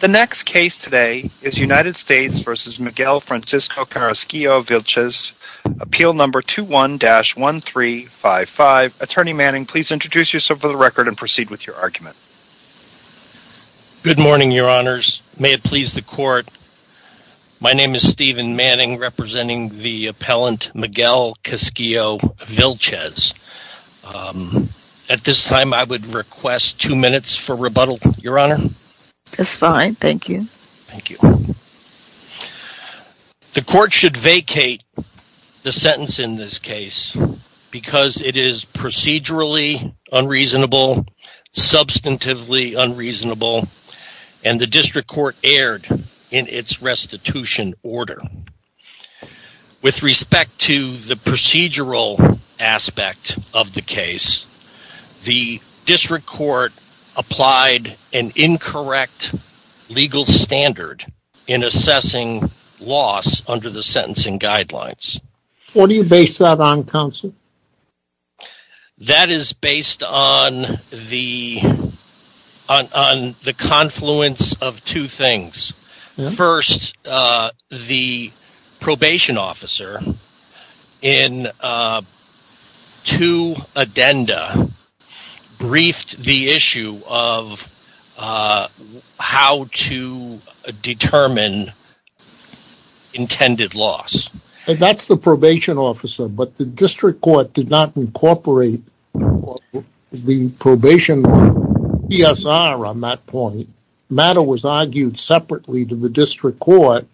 The next case today is United States v. Miguel Francisco Carrasquillo-Vilches, Appeal Number 21-1355. Attorney Manning, please introduce yourself for the record and proceed with your argument. Good morning, your honors. May it please the court, my name is Stephen Manning, representing the appellant Miguel Carrasquillo-Vilches. At this time, I would request two minutes for rebuttal, your honor. That's fine, thank you. The court should vacate the sentence in this case because it is procedurally unreasonable, substantively unreasonable, and the district court erred in its restitution order. With respect to the procedural aspect of the case, the district court applied an incorrect legal standard in assessing loss under the sentencing guidelines. What do you base that on, counsel? That is based on the confluence of two things. First, the probation officer, in two addendums, in the first addendum, the probation officer briefed the issue of how to determine intended loss. That's the probation officer, but the district court did not incorporate the probation officer on that point. The matter was argued separately to the district court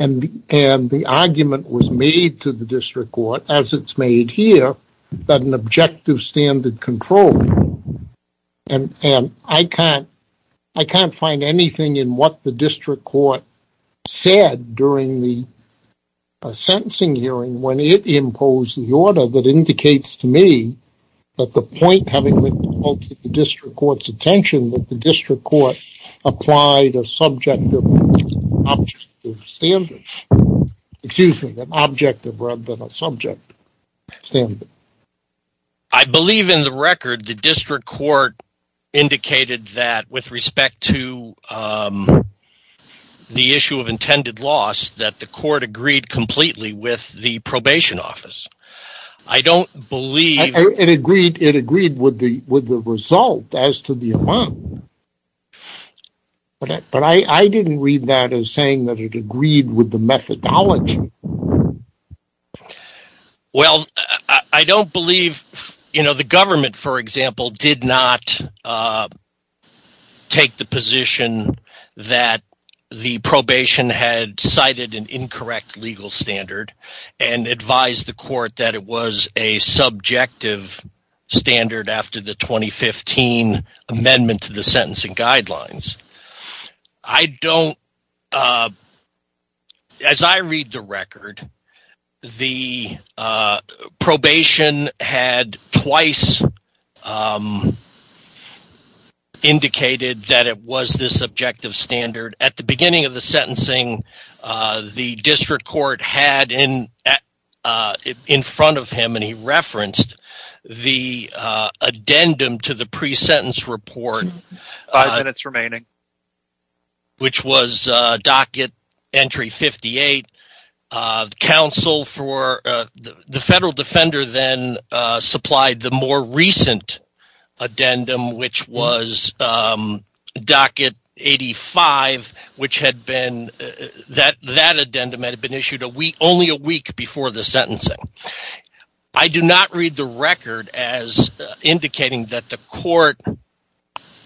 and the argument was made to the district court, as it's made here, that an objective standard control, and I can't find anything in what the district court said during the sentencing hearing when it imposed the order that indicates to me that the point having been brought to the district court's attention, that the district court applied a subjective objective standard. Excuse me, an objective rather than a subject. I believe in the record, the district court indicated that with respect to the issue of intended loss, that the court agreed completely with the probation office. I don't believe... It agreed with the result as to the amount, but I didn't read that as saying that it agreed with the methodology. I don't believe... The government, for example, did not take the position that the probation had cited an incorrect legal standard and advised the court that it was a subjective standard after the 2015 amendment to the sentencing guidelines. I don't believe that the court as I read the record, the probation had twice indicated that it was this subjective standard. At the beginning of the sentencing, the district court had in front of him, and he referenced the addendum to the pre-sentence report. Five minutes remaining. Which was docket entry 58. The federal defender then supplied the more recent addendum, which was docket 85, which had been... That addendum had been issued only a week before the sentencing. I do not read the record as indicating that the court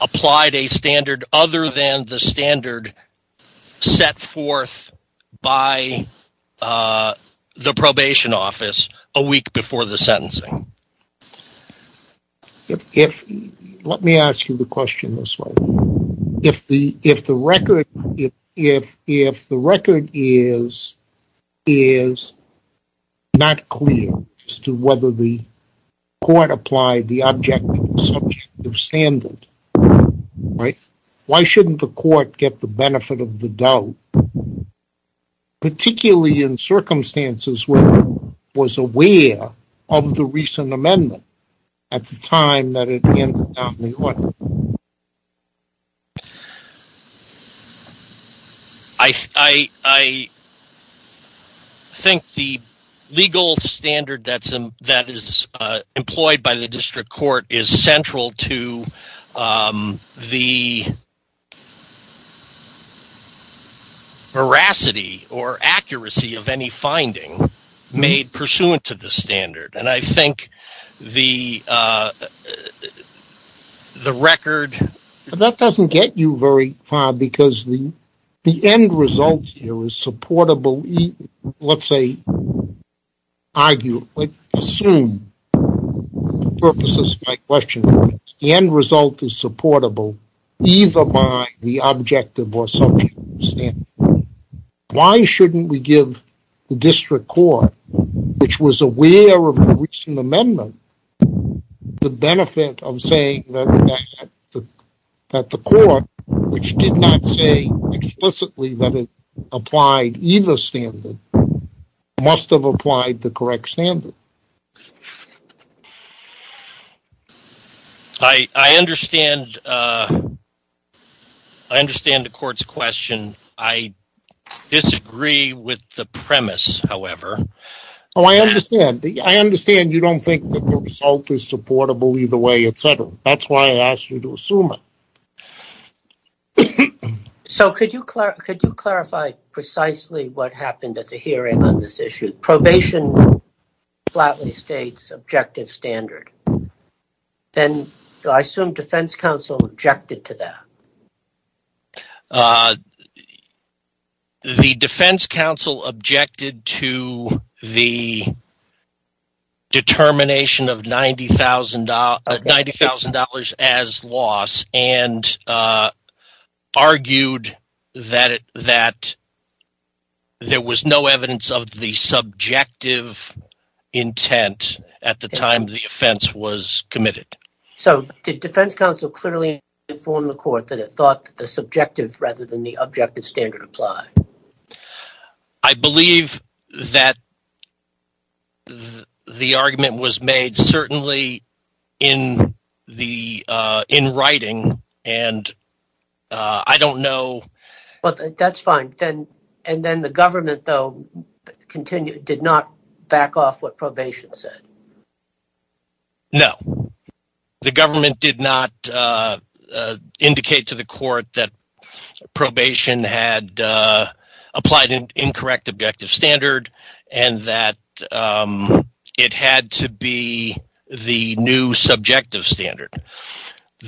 applied a standard other than the standard set forth by the probation office a week before the sentencing. Let me ask you the question this way. If the record is not a subjective standard, then it's not clear as to whether the court applied the objective standard, right? Why shouldn't the court get the benefit of the doubt, particularly in circumstances where it was aware of the recent amendment at the time that it ended down the aisle? I think the legal standard that is employed by the district court is central to the veracity or accuracy of any finding made pursuant to the standard. And I think the record... That doesn't get you very far, because the end result here is supportable, let's say, argue, assume, for the purposes of my question, the end result is supportable either by the objective or subjective standard. Why shouldn't we give the district court, which was aware of the recent amendment, the benefit of saying that the court, which did not say explicitly that it applied either standard, must have applied the correct standard? I understand the court's question. I disagree with the premise, however. I understand you don't think that the result is supportable either way, etc. That's why I asked you to assume it. So could you clarify precisely what happened at the hearing on this issue? Probation flatly states objective standard. Then I assume defense counsel objected to that. The defense counsel objected to the determination of $90,000 as loss and argued that there was no evidence of the subjective intent at the time the offense was committed. So did defense counsel clearly inform the court that it thought that the subjective rather than the objective standard applied? I believe that the argument was made certainly in writing, and I don't know... That's fine. And then the government, though, did not back off what probation said? No. The government did not indicate to the court that probation had applied an incorrect objective standard and that it had to be the new subjective standard.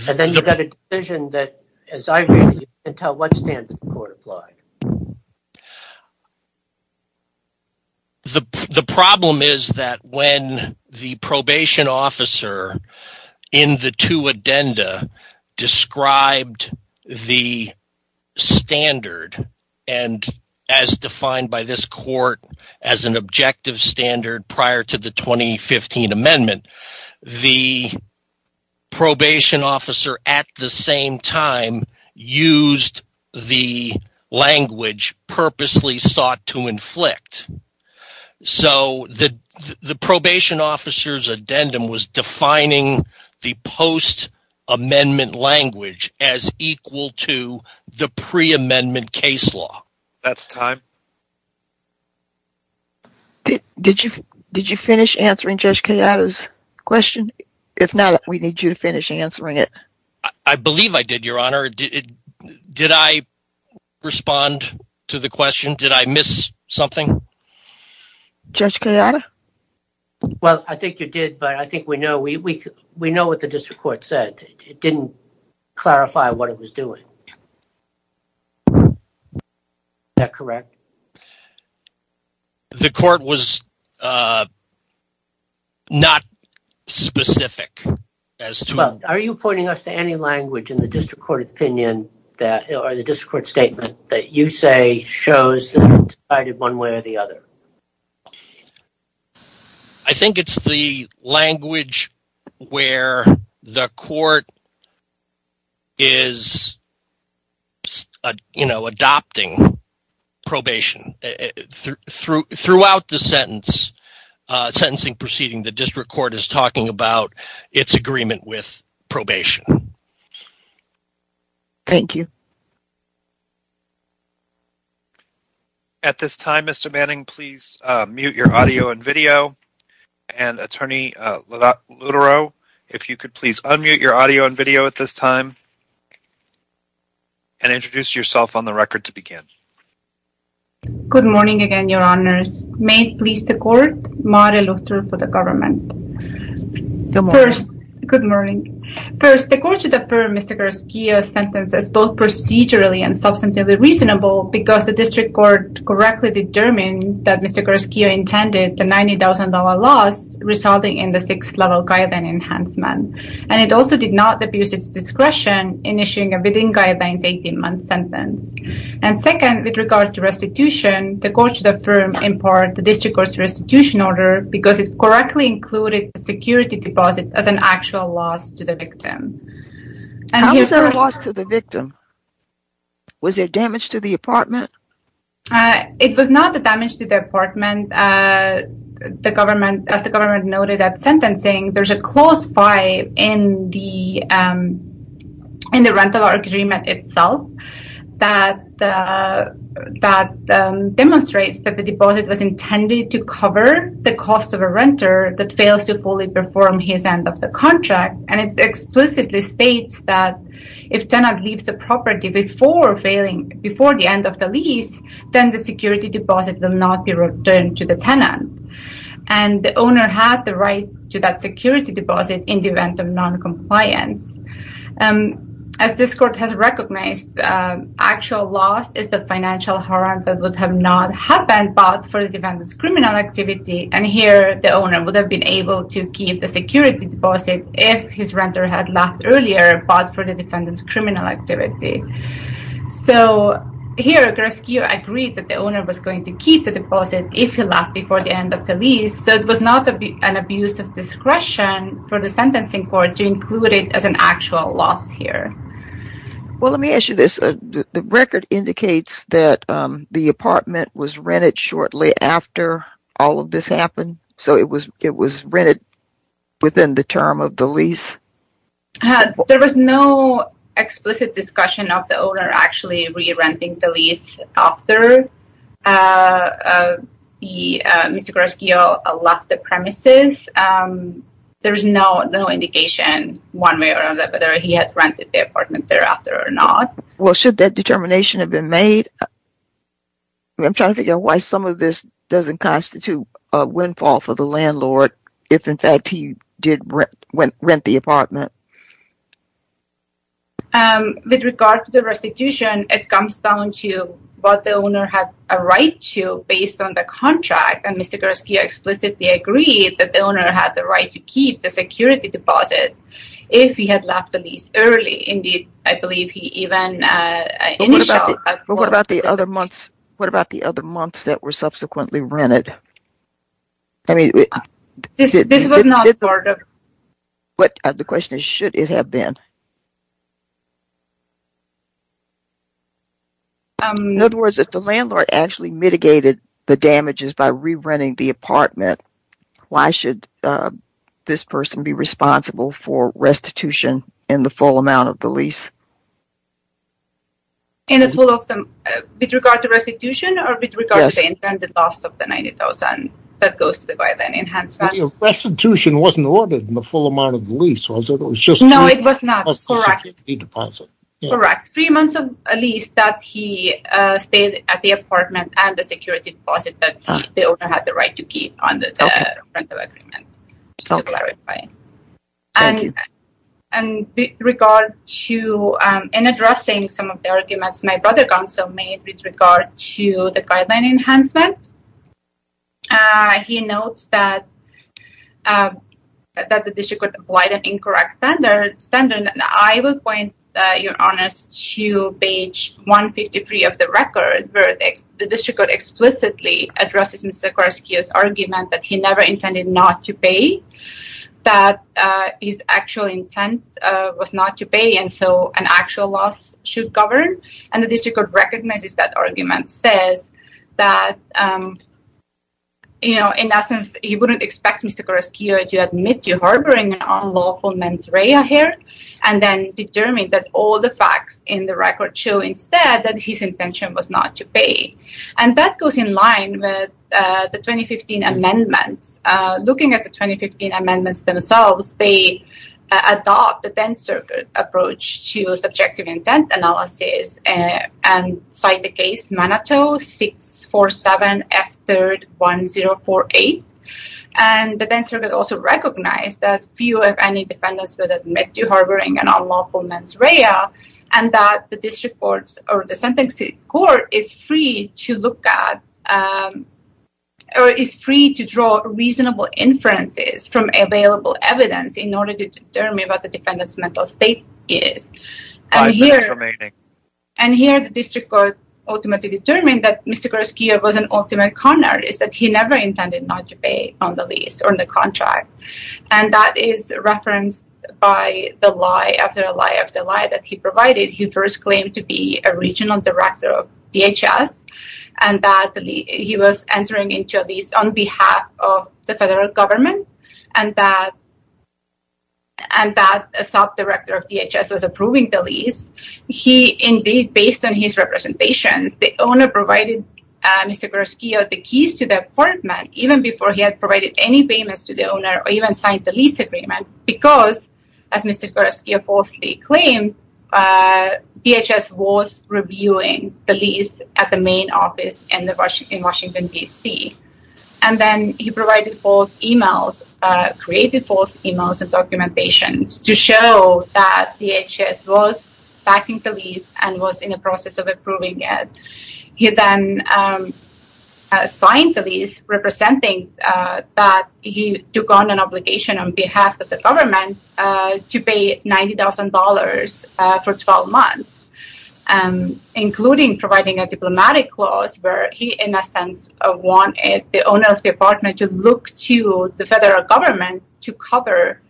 And then you got a decision that, as I read it, you couldn't tell what standard the court applied. The problem is that when the probation officer in the two addenda described the standard and as defined by this court as an objective standard prior to the 2015 amendment, the language purposely sought to inflict. So the probation officer's addendum was defining the post-amendment language as equal to the pre-amendment case law. That's time. Did you finish answering Judge Kayada's question? If not, we need you to finish answering it. I believe I did, Your Honor. Did I respond to the question? Did I miss something? Judge Kayada? Well, I think you did, but I think we know what the district court said. It didn't clarify what it was doing. Is that correct? The court was not specific as to... Are you pointing us to any language in the district court statement that you say shows that it's divided one way or the other? I think it's the language where the court is adopting probation. Throughout the sentencing proceeding, the district court is talking about its agreement with probation. Thank you. At this time, Mr. Manning, please mute your audio and video. And Attorney Lutero, if you could please unmute your audio and video at this time and introduce yourself on the record to begin. Good morning again, Your Honors. May it please the court, Maari Lutero for the government. Good morning. Good morning. First, the court should affirm Mr. Garaskio's sentence as both procedurally and substantively reasonable because the district court correctly determined that Mr. Garaskio intended the $90,000 loss resulting in the sixth-level Kayadan enhancement. And it also did not abuse its discretion in issuing a within Kayadan's 18-month sentence. And second, with regard to restitution, the court should affirm in part the district court's restitution order because it correctly included a security deposit as an actual loss to the victim. How was that loss to the victim? Was there damage to the apartment? It was not the damage to the apartment. As the government noted at sentencing, there's a clause 5 in the rental agreement itself that demonstrates that the deposit was intended to cover the cost of a renter that fails to fully perform his end of the contract. And it explicitly states that if tenant leaves the property before the end of the lease, then the security deposit will not be returned to the tenant. And the owner had the right to that security deposit in the event of noncompliance. As this court has recognized, actual loss is the financial harm that would have not happened, but for the defendant's criminal activity. And here, the owner would have been able to keep the security deposit if his renter had left earlier, but for the defendant's criminal activity. So here, Garaskio agreed that the owner was going to keep the deposit if he left before the end of the lease, so it was not an abuse of discretion for the sentencing court to include it as an actual loss here. Well, let me ask you this. The record indicates that the apartment was rented shortly after all of this happened, so it was rented within the term of the lease? There was no explicit discussion of the owner actually re-renting the lease after Mr. Garaskio left the premises. There is no indication one way or another whether he had rented the apartment thereafter or not. Well, should that determination have been made? I'm trying to figure out why some of this doesn't constitute a windfall for the landlord if, in fact, he did rent the apartment. With regard to the restitution, it comes down to what the owner had a right to based on the contract, and Mr. Garaskio explicitly agreed that the owner had the right to keep the security deposit if he had left the lease early. Indeed, I believe he even initialed But what about the other months that were subsequently rented? The question is, should it have been? In other words, if the landlord actually mitigated the damages by re-renting the apartment, why should this person be responsible for restitution in the full amount of the lease? With regard to restitution, or with regard to the loss of the $90,000 that goes to the guideline enhancement? Restitution wasn't ordered in the full amount of the lease, was it? No, it was not. Correct. Three months of lease that he stayed at the apartment and the security deposit that the owner had the right to keep under the rental agreement, just to clarify. Thank you. In addressing some of the arguments my brother also made with regard to the guideline enhancement, he notes that the district court applied an incorrect standard, and I will point your honors to page 153 of the record, where the district court explicitly addresses Mr. Garaskio's argument that he never intended not to pay, that his actual intent was not to pay, and so an actual loss should govern. And the district court recognizes that argument, says that, in essence, he wouldn't expect Mr. Garaskio to admit to harboring an unlawful mens rea here, and then determine that all the facts in the record show instead that his intention was not to pay. And that goes in line with the 2015 amendments. Looking at the 2015 amendments themselves, they adopt the Tenth Circuit approach to subjective intent analysis and cite the case Manateau 647F3-1048. And the Tenth Circuit also recognized that few, if any, defendants would admit to harboring an unlawful mens rea, and that the district court or the sentencing court is free to look at, or is free to draw reasonable inferences from available evidence in order to determine what the defendant's mental state is. Five minutes remaining. And here the district court ultimately determined that Mr. Garaskio was an ultimate con artist, that he never intended not to pay on the lease or on the contract. And that is referenced by the lie after a lie after a lie that he provided. He first claimed to be a regional director of DHS, and that he was entering into a lease on behalf of the federal government, and that a sub-director of DHS was approving the lease. He, indeed, based on his representations, the owner provided Mr. Garaskio the keys to the apartment even before he had provided any payments to the owner or even signed the lease agreement because, as Mr. Garaskio falsely claimed, DHS was reviewing the lease at the main office in Washington, D.C. And then he provided false emails, created false emails and documentation to show that DHS was backing the lease and was in the process of approving it. He then signed the lease representing that he took on an obligation on behalf of the government to pay $90,000 for 12 months, including providing a diplomatic clause where he, in a sense, wanted the owner of the apartment to look to the federal government to cover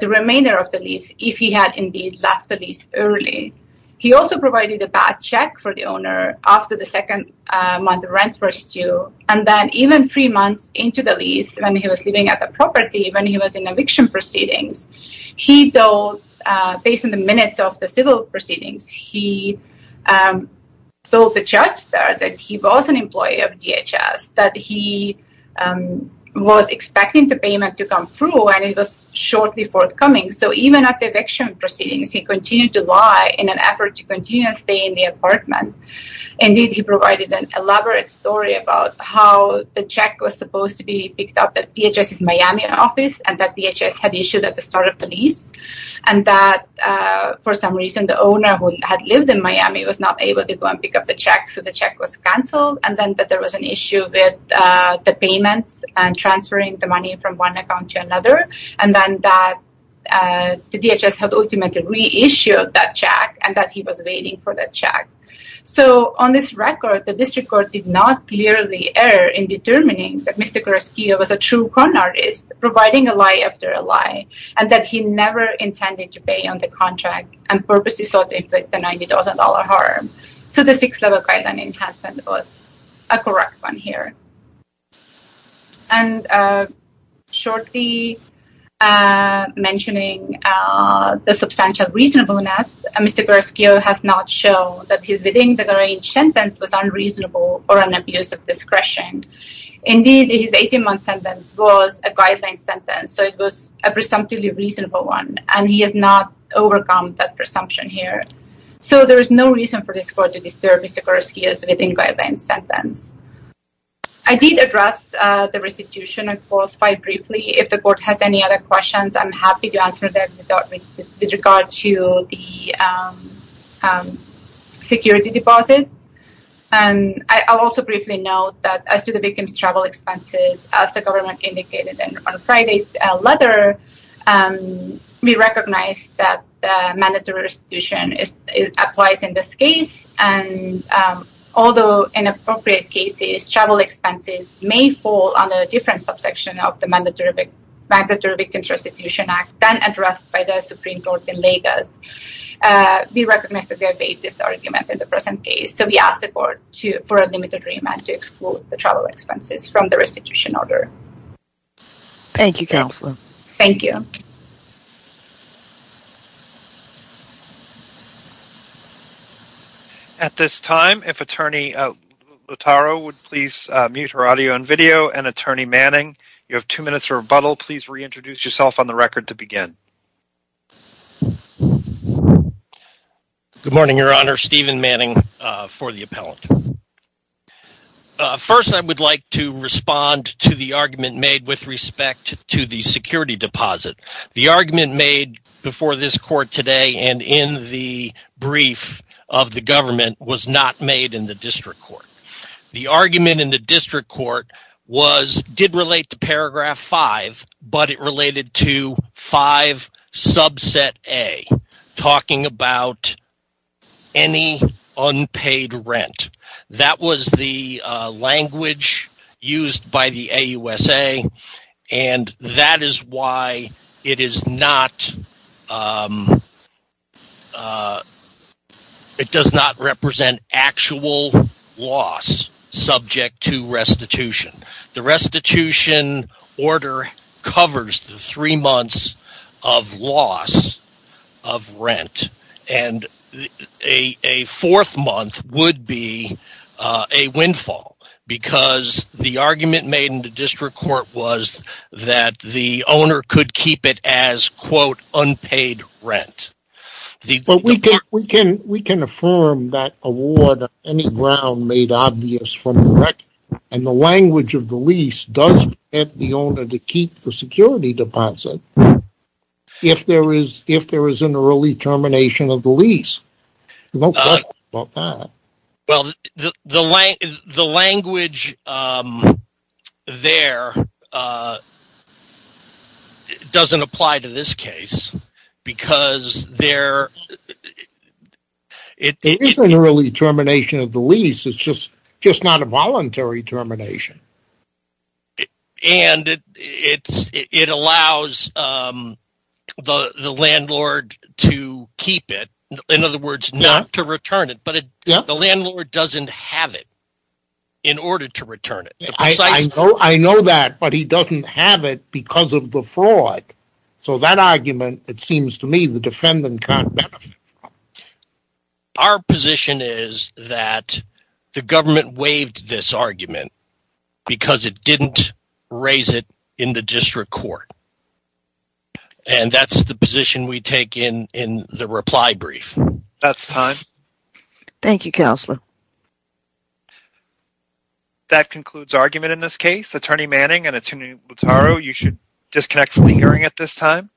the remainder of the lease if he had, indeed, left the lease early. He also provided a bad check for the owner after the second month rent was due, and then even three months into the lease, when he was living at the property, when he was in eviction proceedings, he told, based on the minutes of the civil proceedings, he told the judge there that he was an employee of DHS, that he was expecting the payment to come through, and it was shortly forthcoming. So even at the eviction proceedings, he continued to lie in an effort to continue to stay in the apartment. Indeed, he provided an elaborate story about how the check was supposed to be picked up at DHS's Miami office and that DHS had issued at the start of the lease and that, for some reason, the owner who had lived in Miami was not able to go and pick up the check, so the check was canceled. And then that there was an issue with the payments and transferring the money from one account to another, and then that the DHS had ultimately reissued that check and that he was waiting for that check. So on this record, the district court did not clearly err in determining that Mr. Carrasquillo was a true con artist, providing a lie after a lie, and that he never intended to pay on the contract and purposely sought to inflict a $90,000 harm. So the Sixth Level Guideline Enhancement was a correct one here. And shortly mentioning the substantial reasonableness, Mr. Carrasquillo has not shown that his within-the-range sentence was unreasonable or an abuse of discretion. Indeed, his 18-month sentence was a guideline sentence, so it was a presumptively reasonable one, and he has not overcome that presumption here. So there is no reason for this court to disturb Mr. Carrasquillo's within-guideline sentence. I did address the restitution clause quite briefly. If the court has any other questions, I'm happy to answer them with regard to the security deposit. And I'll also briefly note that as to the victim's travel expenses, as the government indicated on Friday's letter, we recognize that mandatory restitution applies in this case. In appropriate cases, travel expenses may fall under a different subsection of the Mandatory Victims Restitution Act than addressed by the Supreme Court in Lagos. We recognize that they obey this argument in the present case, so we ask the court for a limited remand to exclude the travel expenses from the restitution order. Thank you, Counselor. Thank you. At this time, if Attorney Lutaro would please mute her audio and video, and Attorney Manning, you have two minutes for rebuttal. Please reintroduce yourself on the record to begin. Good morning, Your Honor. Stephen Manning for the appellant. First, I would like to respond to the argument made with respect to the security deposit. The argument made before this court today and in the brief of the government was not made in the district court. The argument in the district court did relate to paragraph 5, but it related to 5 subset A, talking about any unpaid rent. That was the language used by the AUSA, and that is why it does not represent actual loss subject to restitution. The restitution order covers the three months of loss of rent, and a fourth month would be a windfall, because the argument made in the district court was that the owner could keep it as, quote, unpaid rent. We can affirm that award on any ground made obvious from the record, and the language of the lease does permit the owner to keep the security deposit if there is an early termination of the lease. There's no question about that. Well, the language there doesn't apply to this case, because there is an early termination of the lease, it's just not a voluntary termination. And it allows the landlord to keep it, in other words, not to return it, but the landlord doesn't have it in order to return it. I know that, but he doesn't have it because of the fraud. So that argument, it seems to me, the defendant can't benefit from. Our position is that the government waived this argument because it didn't raise it in the district court, and that's the position we take in the reply brief. That's time. Thank you, Counselor. That concludes argument in this case. Attorney Manning and Attorney Lutaro, you should disconnect from the hearing at this time.